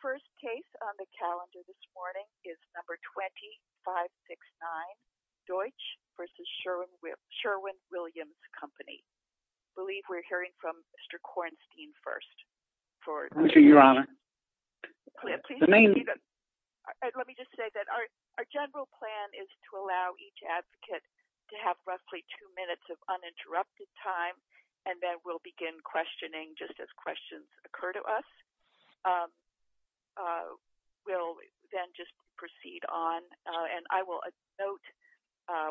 The first case on the calendar this morning is No. 20-569, Deutsch v. Sherwin-Williams Company. I believe we're hearing from Mr. Kornstein first. Thank you, Your Honor. Let me just say that our general plan is to allow each advocate to have roughly two minutes of uninterrupted time, and then we'll begin questioning just as questions occur to us. We'll then just proceed on, and I will note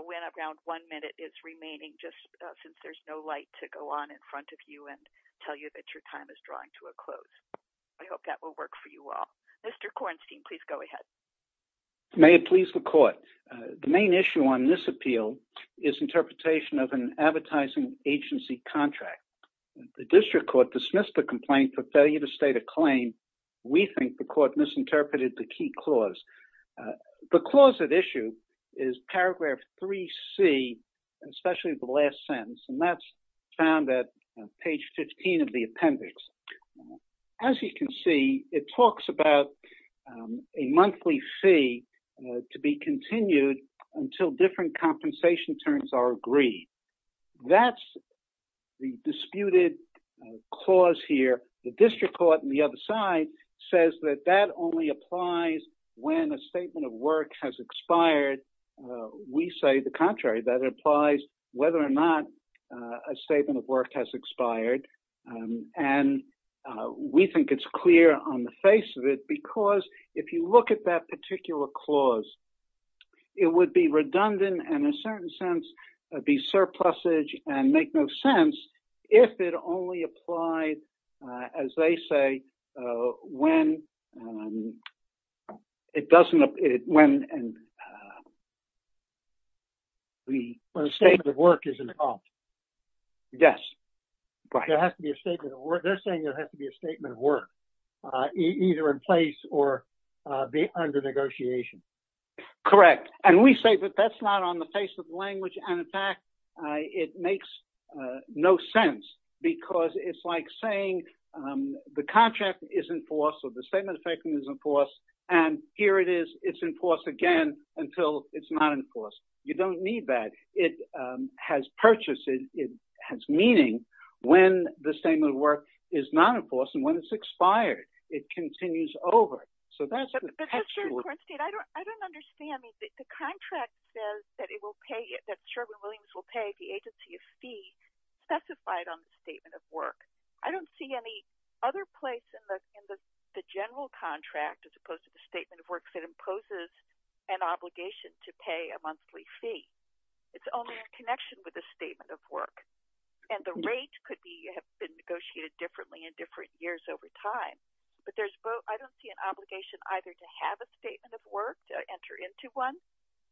when around one minute is remaining, just since there's no light to go on in front of you and tell you that your time is drawing to a close. I hope that will work for you all. Mr. Kornstein, please go ahead. May it please the Court. The main issue on this appeal is interpretation of an advertising agency contract. The district court dismissed the complaint for failure to state a claim. We think the court misinterpreted the key clause. The clause at issue is paragraph 3C, especially the last sentence, and that's found at page 15 of the appendix. As you can see, it talks about a monthly fee to be continued until different compensation terms are agreed. That's the disputed clause here. The district court on the other side says that that only applies when a statement of work has expired. We say the contrary. That applies whether or not a statement of work has expired. And we think it's clear on the face of it because if you look at that particular clause, it would be redundant and, in a certain sense, be surplusage and make no sense if it only applied, as they say, when the statement of work is expired. Yes. There has to be a statement of work. They're saying there has to be a statement of work either in place or under negotiation. Correct. And we say that that's not on the face of language and in fact it makes no sense because it's like saying the contract is in force or the statement of payment is in force and here it is. It's in force again until it's not in force. You don't need that. It has purchase. It has meaning when the statement of work is not in force and when it's expired. It continues over. So that's the textual. But, Mr. Cornstead, I don't understand. The contract says that it will pay, that Sherwin-Williams will pay the agency a fee specified on the statement of work. I don't see any other place in the general contract as opposed to the statement of work that imposes an obligation to pay a monthly fee. It's only in connection with the statement of work. And the rate could be negotiated differently in different years over time. But I don't see an obligation either to have a statement of work, to enter into one,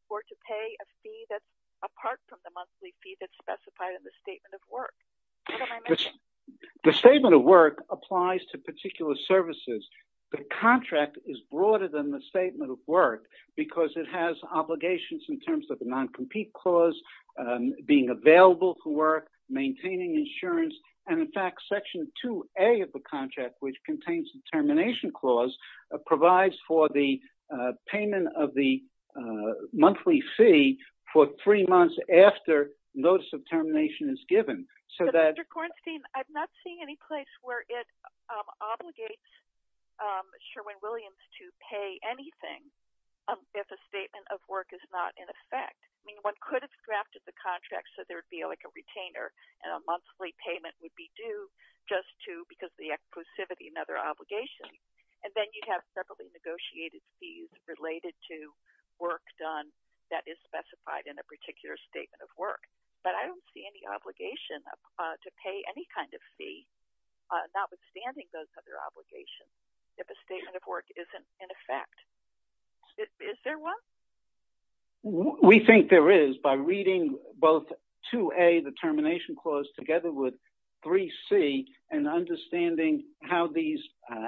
or to pay a fee that's apart from the monthly fee that's specified in the statement of work. What am I missing? The statement of work applies to particular services. The contract is broader than the statement of work because it has obligations in terms of the non-compete clause, being available for work, maintaining insurance. And, in fact, Section 2A of the contract, which contains the termination clause, provides for the payment of the monthly fee for three months after notice of termination is given. But, Mr. Kornstein, I'm not seeing any place where it obligates Sherwin-Williams to pay anything if a statement of work is not in effect. I mean, one could have drafted the contract so there would be like a retainer and a monthly payment would be due just to, because of the exclusivity, another obligation. And then you'd have separately negotiated fees related to work done that is specified in a particular statement of work. But I don't see any obligation to pay any kind of fee, notwithstanding those other obligations, if a statement of work isn't in effect. Is there one? We think there is, by reading both 2A, the termination clause, together with 3C, and understanding how these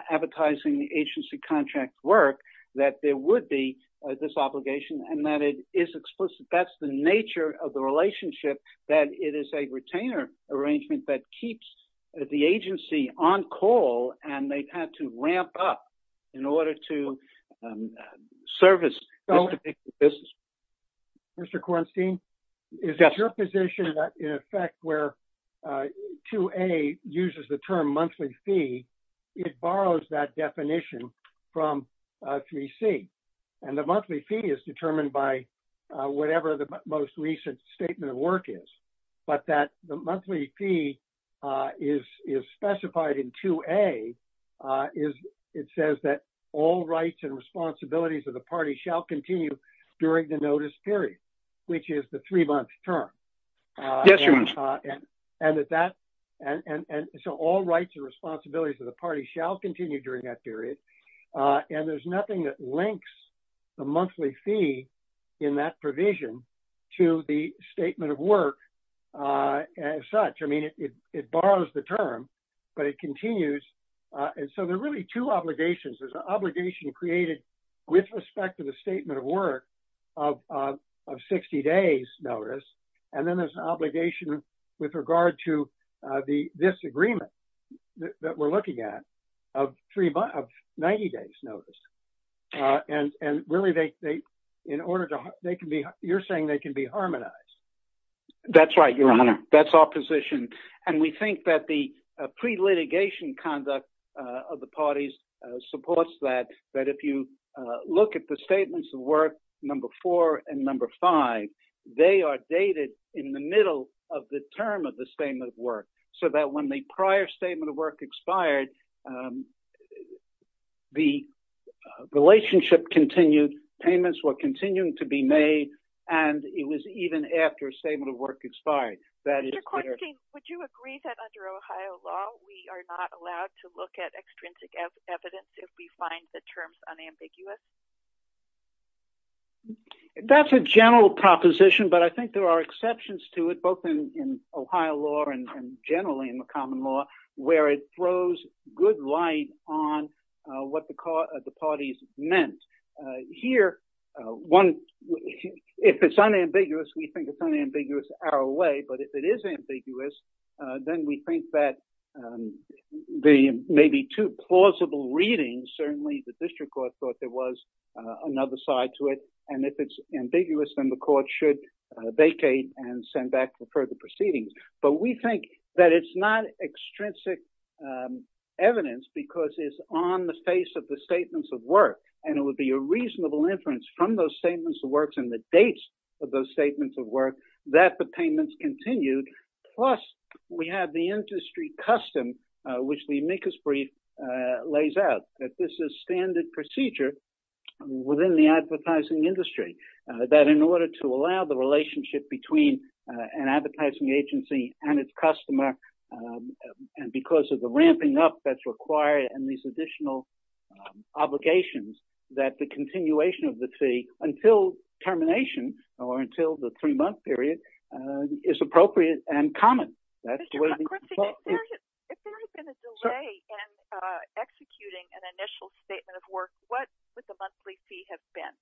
advertising agency contracts work, that there would be this obligation and that it is explicit. That's the nature of the relationship, that it is a retainer arrangement that keeps the agency on call and they've had to ramp up in order to service this particular business. Mr. Kornstein, is it your position that, in effect, where 2A uses the term monthly fee, it borrows that definition from 3C? And the monthly fee is determined by whatever the most recent statement of work is. But that the monthly fee is specified in 2A, it says that all rights and responsibilities of the party shall continue during the notice period, which is the three-month term. Yes, Your Worship. And so all rights and responsibilities of the party shall continue during that period. And there's nothing that links the monthly fee in that provision to the statement of work as such. I mean, it borrows the term, but it continues. And so there are really two obligations. There's an obligation created with respect to the statement of work of 60 days notice. And then there's an obligation with regard to this agreement that we're looking at of 90 days notice. And really, you're saying they can be harmonized. That's right, Your Honor. That's our position. And we think that the pre-litigation conduct of the parties supports that, that if you look at the statements of work, number four and number five, they are dated in the middle of the term of the statement of work. So that when the prior statement of work expired, the relationship continued, payments were continuing to be made, and it was even after a statement of work expired. Would you agree that under Ohio law, we are not allowed to look at extrinsic evidence if we find the terms unambiguous? That's a general proposition, but I think there are exceptions to it, both in Ohio law and generally in the common law, where it throws good light on what the parties meant. Here, if it's unambiguous, we think it's unambiguous our way. But if it is ambiguous, then we think that there may be two plausible readings. Certainly, the district court thought there was another side to it. And if it's ambiguous, then the court should vacate and send back for further proceedings. But we think that it's not extrinsic evidence because it's on the face of the statements of work, and it would be a reasonable inference from those statements of work and the dates of those statements of work that the payments continued. Plus, we have the industry custom, which the amicus brief lays out, that this is standard procedure within the advertising industry, that in order to allow the relationship between an advertising agency and its customer, and because of the ramping up that's required and these additional obligations, that the continuation of the fee until termination, or until the three-month period, is appropriate and common. If there has been a delay in executing an initial statement of work, what would the monthly fee have been?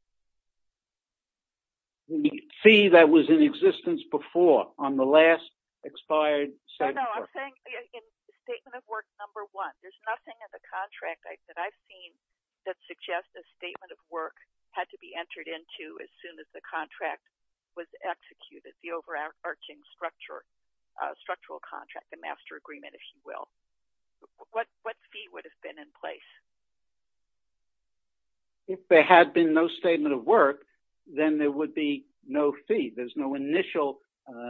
The fee that was in existence before, on the last expired statement of work. No, no, I'm saying in statement of work number one, there's nothing in the contract that I've seen that suggests a statement of work had to be entered into as soon as the contract was executed, the overarching structural contract, the master agreement, if you will. What fee would have been in place? If there had been no statement of work, then there would be no fee. There's no initial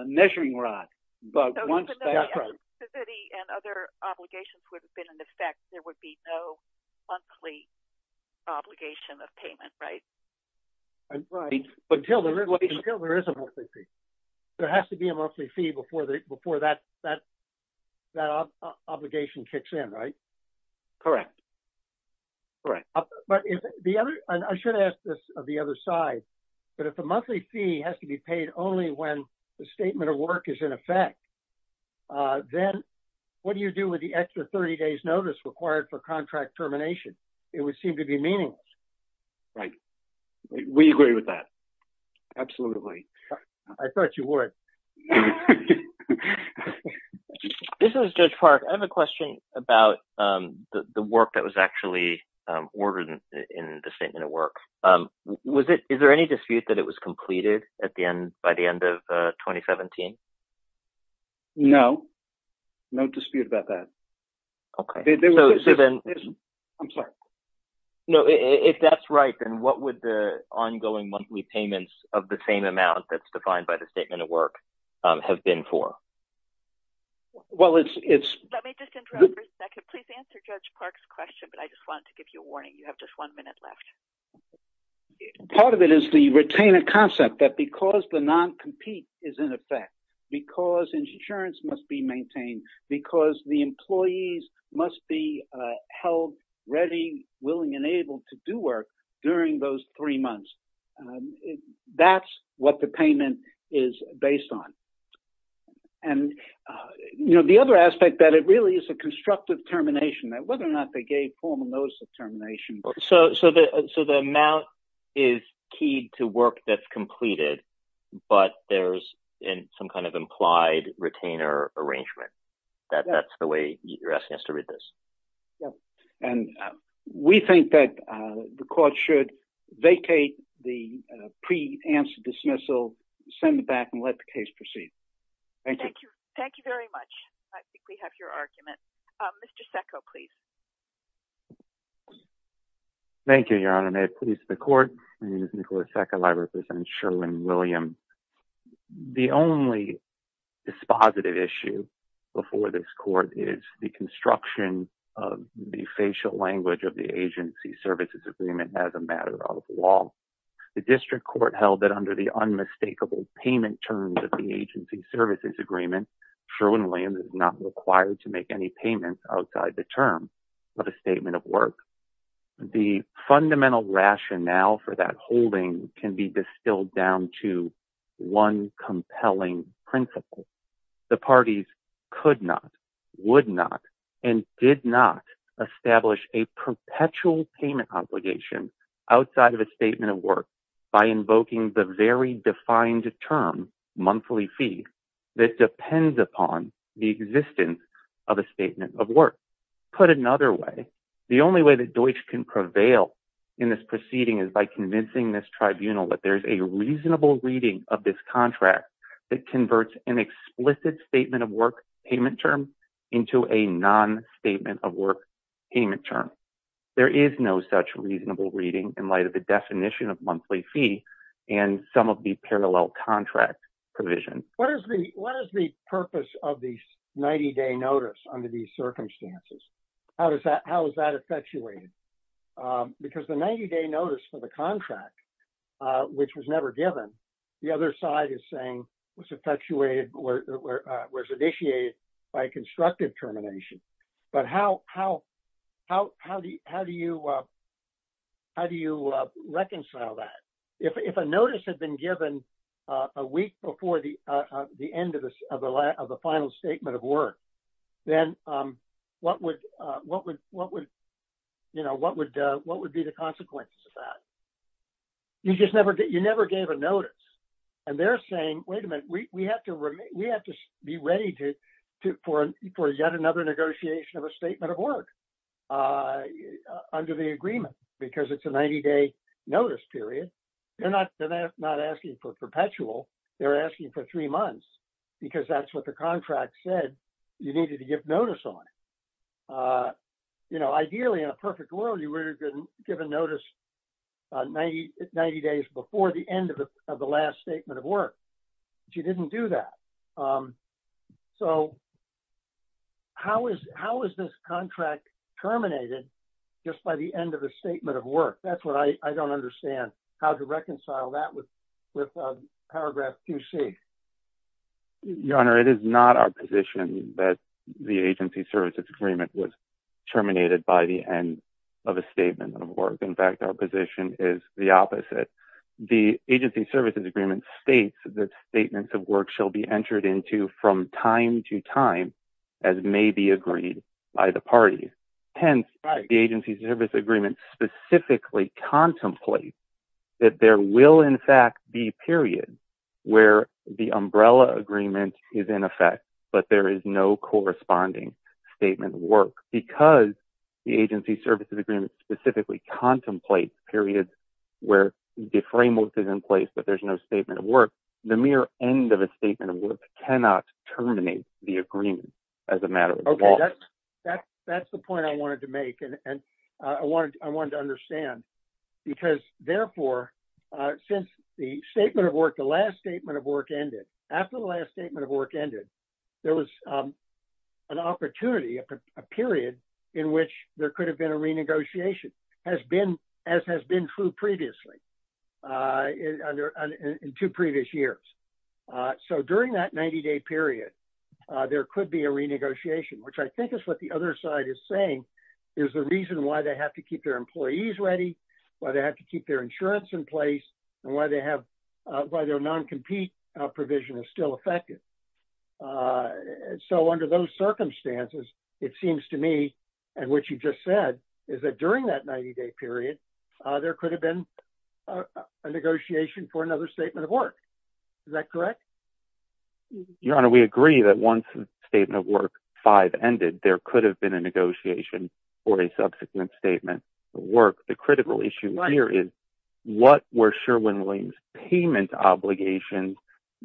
measuring rod. So even though the eligibility and other obligations would have been in effect, there would be no monthly obligation of payment, right? Right, until there is a monthly fee. There has to be a monthly fee before that obligation kicks in, right? Correct. I should ask this of the other side, but if the monthly fee has to be paid only when the statement of work is in effect, then what do you do with the extra 30 days notice required for contract termination? It would seem to be meaningless. Right. We agree with that. Absolutely. I thought you would. This is Judge Park. I have a question about the work that was actually ordered in the statement of work. Is there any dispute that it was completed by the end of 2017? No. No dispute about that. Okay. I'm sorry. No, if that's right, then what would the ongoing monthly payments of the same amount that's defined by the statement of work have been for? Well, it's... Let me just interrupt for a second. Please answer Judge Park's question, but I just wanted to give you a warning. You have just one minute left. Part of it is the retainer concept that because the non-compete is in effect, because insurance must be maintained, because the employees must be held ready, willing, and able to do work during those three months, that's what the payment is based on. And, you know, the other aspect that it really is a constructive termination, whether or not they gave formal notice of termination. So the amount is keyed to work that's completed, but there's some kind of implied retainer arrangement. That's the way you're asking us to read this. Yep. And we think that the court should vacate the pre-answer dismissal, send it back, and let the case proceed. Thank you. Thank you very much. I think we have your argument. Mr. Secco, please. Thank you, Your Honor. May it please the court. My name is Nicholas Secco. I represent Sherwin-Williams. The only dispositive issue before this court is the construction of the facial language of the agency services agreement as a matter of law. The district court held that under the unmistakable payment terms of the agency services agreement, Sherwin-Williams is not required to make any payments outside the term of a statement of work. The fundamental rationale for that holding can be distilled down to one compelling principle. The parties could not, would not, and did not establish a perpetual payment obligation outside of a statement of work by invoking the very defined term, monthly fee, that depends upon the existence of a statement of work. Put another way, the only way that Deutsch can prevail in this proceeding is by convincing this tribunal that there's a reasonable reading of this contract that converts an explicit statement of work payment term into a non-statement of work payment term. There is no such reasonable reading in light of the definition of monthly fee and some of the parallel contract provisions. What is the purpose of the 90-day notice under these circumstances? How is that effectuated? Because the 90-day notice for the contract, which was never given, the other side is saying was effectuated or was initiated by constructive termination. But how do you reconcile that? If a notice had been given a week before the end of the final statement of work, then what would be the consequences of that? You never gave a notice. And they're saying, wait a minute, we have to be ready for yet another negotiation of a statement of work under the agreement because it's a 90-day notice period. They're not asking for perpetual. They're asking for three months because that's what the contract said you needed to give notice on. Ideally, in a perfect world, you would have given notice 90 days before the end of the last statement of work. But you didn't do that. So how is this contract terminated just by the end of a statement of work? That's what I don't understand, how to reconcile that with paragraph 2C. Your Honor, it is not our position that the agency services agreement was terminated by the end of a statement of work. In fact, our position is the opposite. The agency services agreement states that statements of work shall be entered into from time to time as may be agreed by the parties. Hence, the agency services agreement specifically contemplates that there will, in fact, be periods where the umbrella agreement is in effect, but there is no corresponding statement of work. Because the agency services agreement specifically contemplates periods where the framework is in place, but there's no statement of work, the mere end of a statement of work cannot terminate the agreement as a matter of law. That's the point I wanted to make, and I wanted to understand. Because, therefore, since the statement of work, the last statement of work ended, after the last statement of work ended, there was an opportunity, a period in which there could have been a renegotiation, as has been true previously, in two previous years. So during that 90-day period, there could be a renegotiation, which I think is what the other side is saying is the reason why they have to keep their employees ready, why they have to keep their insurance in place, and why their non-compete provision is still effective. So under those circumstances, it seems to me, and what you just said, is that during that 90-day period, there could have been a negotiation for another statement of work. Is that correct? Your Honor, we agree that once the statement of work 5 ended, there could have been a negotiation for a subsequent statement of work. The critical issue here is what were Sherwin-Williams' payment obligations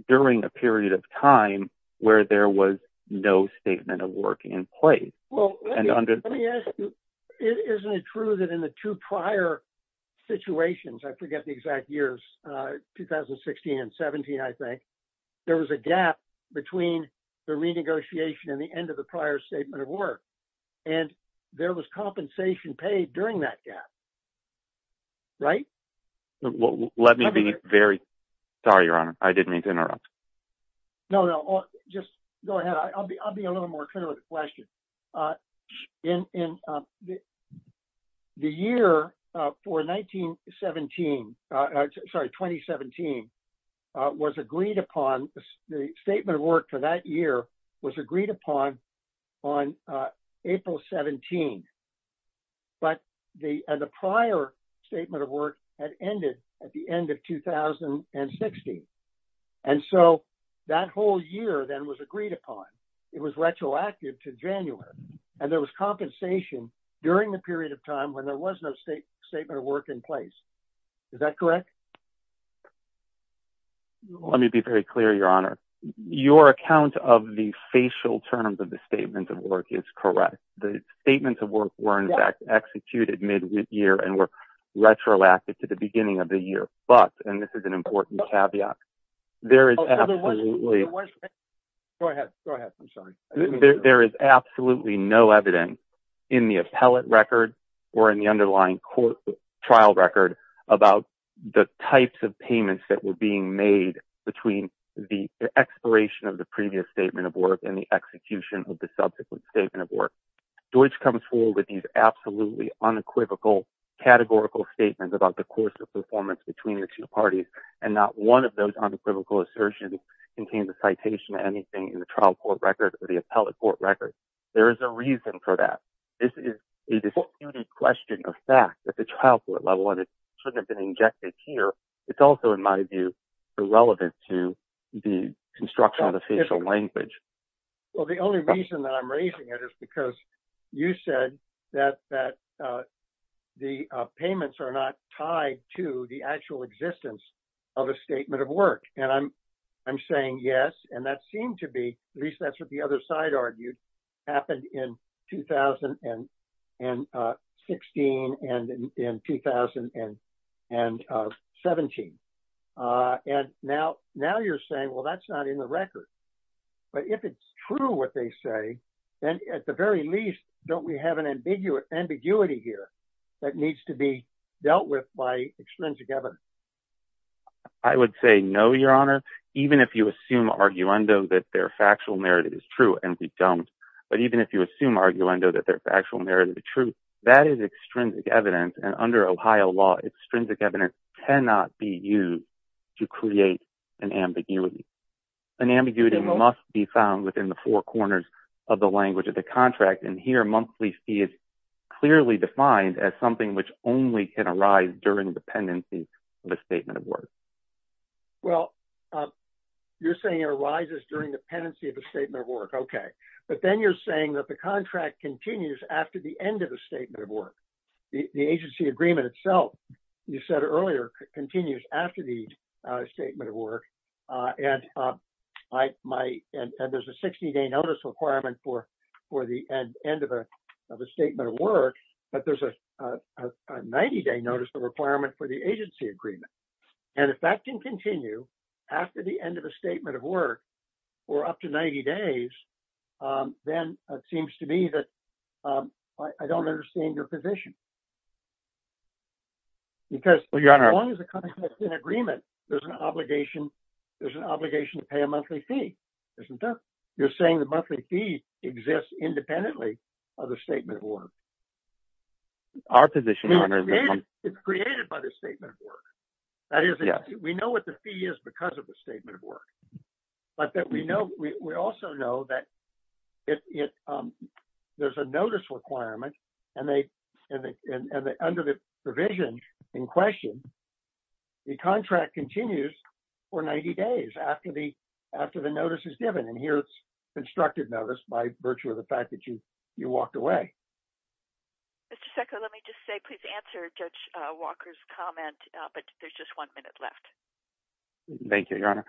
during a period of time where there was no statement of work in place? Well, let me ask you, isn't it true that in the two prior situations, I forget the exact years, 2016 and 17, I think, there was a gap between the renegotiation and the end of the prior statement of work, and there was compensation paid during that gap? Right? Let me be very, sorry, Your Honor, I didn't mean to interrupt. No, no, just go ahead. I'll be a little more clear with the question. The year for 1917, sorry, 2017, was agreed upon, the statement of work for that year was agreed upon on April 17. But the prior statement of work had ended at the end of 2016, and so that whole year then was agreed upon. It was retroactive to January, and there was compensation during the period of time when there was no statement of work in place. Is that correct? Let me be very clear, Your Honor. Your account of the facial terms of the statement of work is correct. The statements of work were, in fact, executed mid-year and were retroactive to the beginning of the year, but, and this is an important caveat, there is absolutely... Go ahead. Go ahead. I'm sorry. There is absolutely no evidence in the appellate record or in the underlying trial record about the types of payments that were being made between the expiration of the previous statement of work and the execution of the subsequent statement of work. Deutch comes forward with these absolutely unequivocal categorical statements about the course of performance between the two parties, and not one of those unequivocal assertions contains a citation to anything in the trial court record or the appellate court record. There is a reason for that. This is a disputed question of fact at the trial court level, and it shouldn't have been injected here. It's also, in my view, irrelevant to the construction of the facial language. Well, the only reason that I'm raising it is because you said that the payments are not tied to the actual existence of a statement of work, and I'm saying yes, and that seemed to be, at least that's what the other side argued, happened in 2016 and in 2017. And now you're saying, well, that's not in the record. But if it's true what they say, then at the very least, don't we have an ambiguity here that needs to be dealt with by extrinsic evidence? I would say no, Your Honor, even if you assume arguendo that their factual narrative is true, and we don't. But even if you assume arguendo that their factual narrative is true, that is extrinsic evidence, and under Ohio law, extrinsic evidence cannot be used to create an ambiguity. An ambiguity must be found within the four corners of the language of the contract, and here monthly fee is clearly defined as something which only can arise during the pendency of a statement of work. Well, you're saying it arises during the pendency of a statement of work. Okay. But then you're saying that the contract continues after the end of a statement of work. The agency agreement itself, you said earlier, continues after the statement of work. And there's a 60-day notice requirement for the end of a statement of work, but there's a 90-day notice requirement for the agency agreement. And if that can continue after the end of a statement of work for up to 90 days, then it seems to me that I don't understand your position. Because as long as the contract is in agreement, there's an obligation to pay a monthly fee, isn't there? You're saying the monthly fee exists independently of the statement of work. It's created by the statement of work. That is, we know what the fee is because of the statement of work. But we also know that there's a notice requirement, and under the provision in question, the contract continues for 90 days after the notice is given. And here, it's constructed notice by virtue of the fact that you walked away. Mr. Secco, let me just say, please answer Judge Walker's comment, but there's just one minute left. Thank you, Your Honor.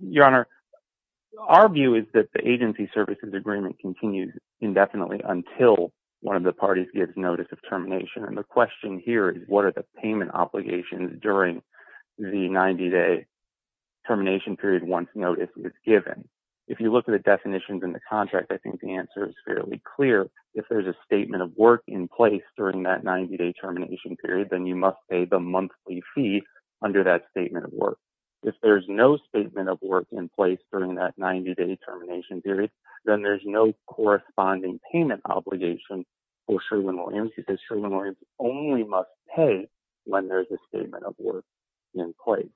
Your Honor, our view is that the agency services agreement continues indefinitely until one of the parties gives notice of termination. And the question here is, what are the payment obligations during the 90-day termination period once notice is given? If you look at the definitions in the contract, I think the answer is fairly clear. If there's a statement of work in place during that 90-day termination period, then you must pay the monthly fee under that statement of work. If there's no statement of work in place during that 90-day termination period, then there's no corresponding payment obligation for Sherwin-Williams because Sherwin-Williams only must pay when there's a statement of work in place.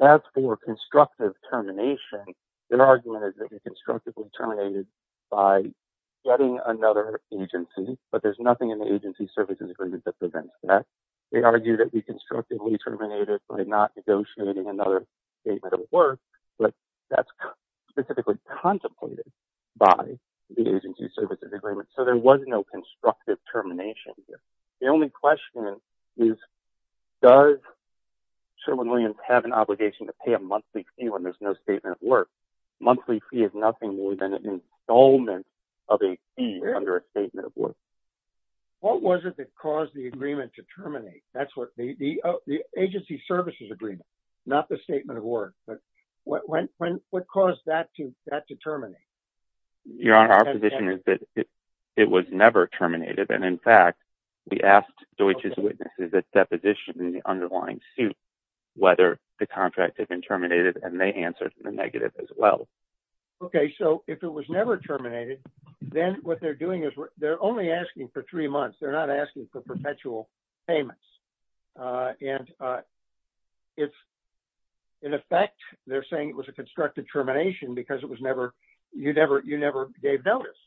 As for constructive termination, their argument is that we constructively terminated by getting another agency, but there's nothing in the agency services agreement that prevents that. They argue that we constructively terminated by not negotiating another statement of work, but that's specifically contemplated by the agency services agreement. So there was no constructive termination. The only question is, does Sherwin-Williams have an obligation to pay a monthly fee when there's no statement of work? Monthly fee is nothing more than an installment of a fee under a statement of work. What was it that caused the agreement to terminate? The agency services agreement, not the statement of work. What caused that to terminate? Your Honor, our position is that it was never terminated, and in fact, we asked Deutsche's witnesses at deposition in the underlying suit whether the contract had been terminated, and they answered the negative as well. Okay, so if it was never terminated, then what they're doing is they're only asking for three months. They're not asking for perpetual payments. In effect, they're saying it was a constructive termination because you never gave notice,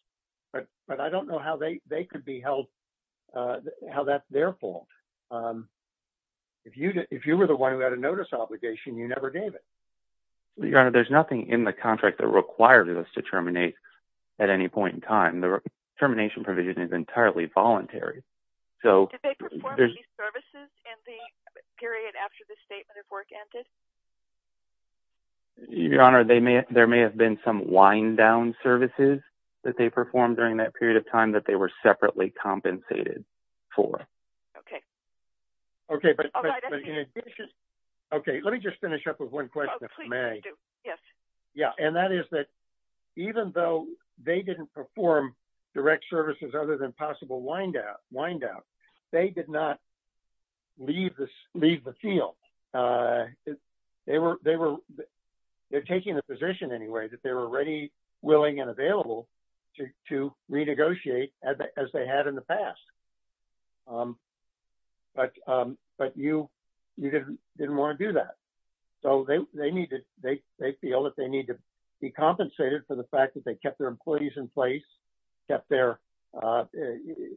but I don't know how that's their fault. If you were the one who had a notice obligation, you never gave it. Your Honor, there's nothing in the contract that required us to terminate at any point in time. The termination provision is entirely voluntary. Did they perform any services in the period after the statement of work ended? Your Honor, there may have been some wind-down services that they performed during that period of time that they were separately compensated for. Okay, let me just finish up with one question if I may. And that is that even though they didn't perform direct services other than possible wind-down, they did not leave the field. They're taking the position anyway that they were ready, willing, and available to renegotiate as they had in the past, but you didn't want to do that. So they feel that they need to be compensated for the fact that they kept their employees in place, kept their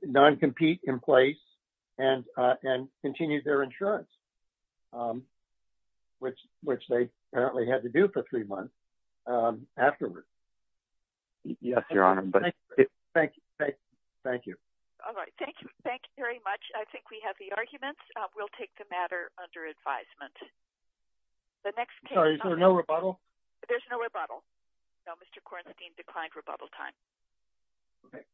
non-compete in place, and continued their insurance, which they apparently had to do for three months afterwards. Yes, Your Honor. Thank you. All right, thank you very much. I think we have the arguments. We'll take the matter under advisement. Sorry, is there no rebuttal? There's no rebuttal. No, Mr. Kornstein declined rebuttal time. Okay.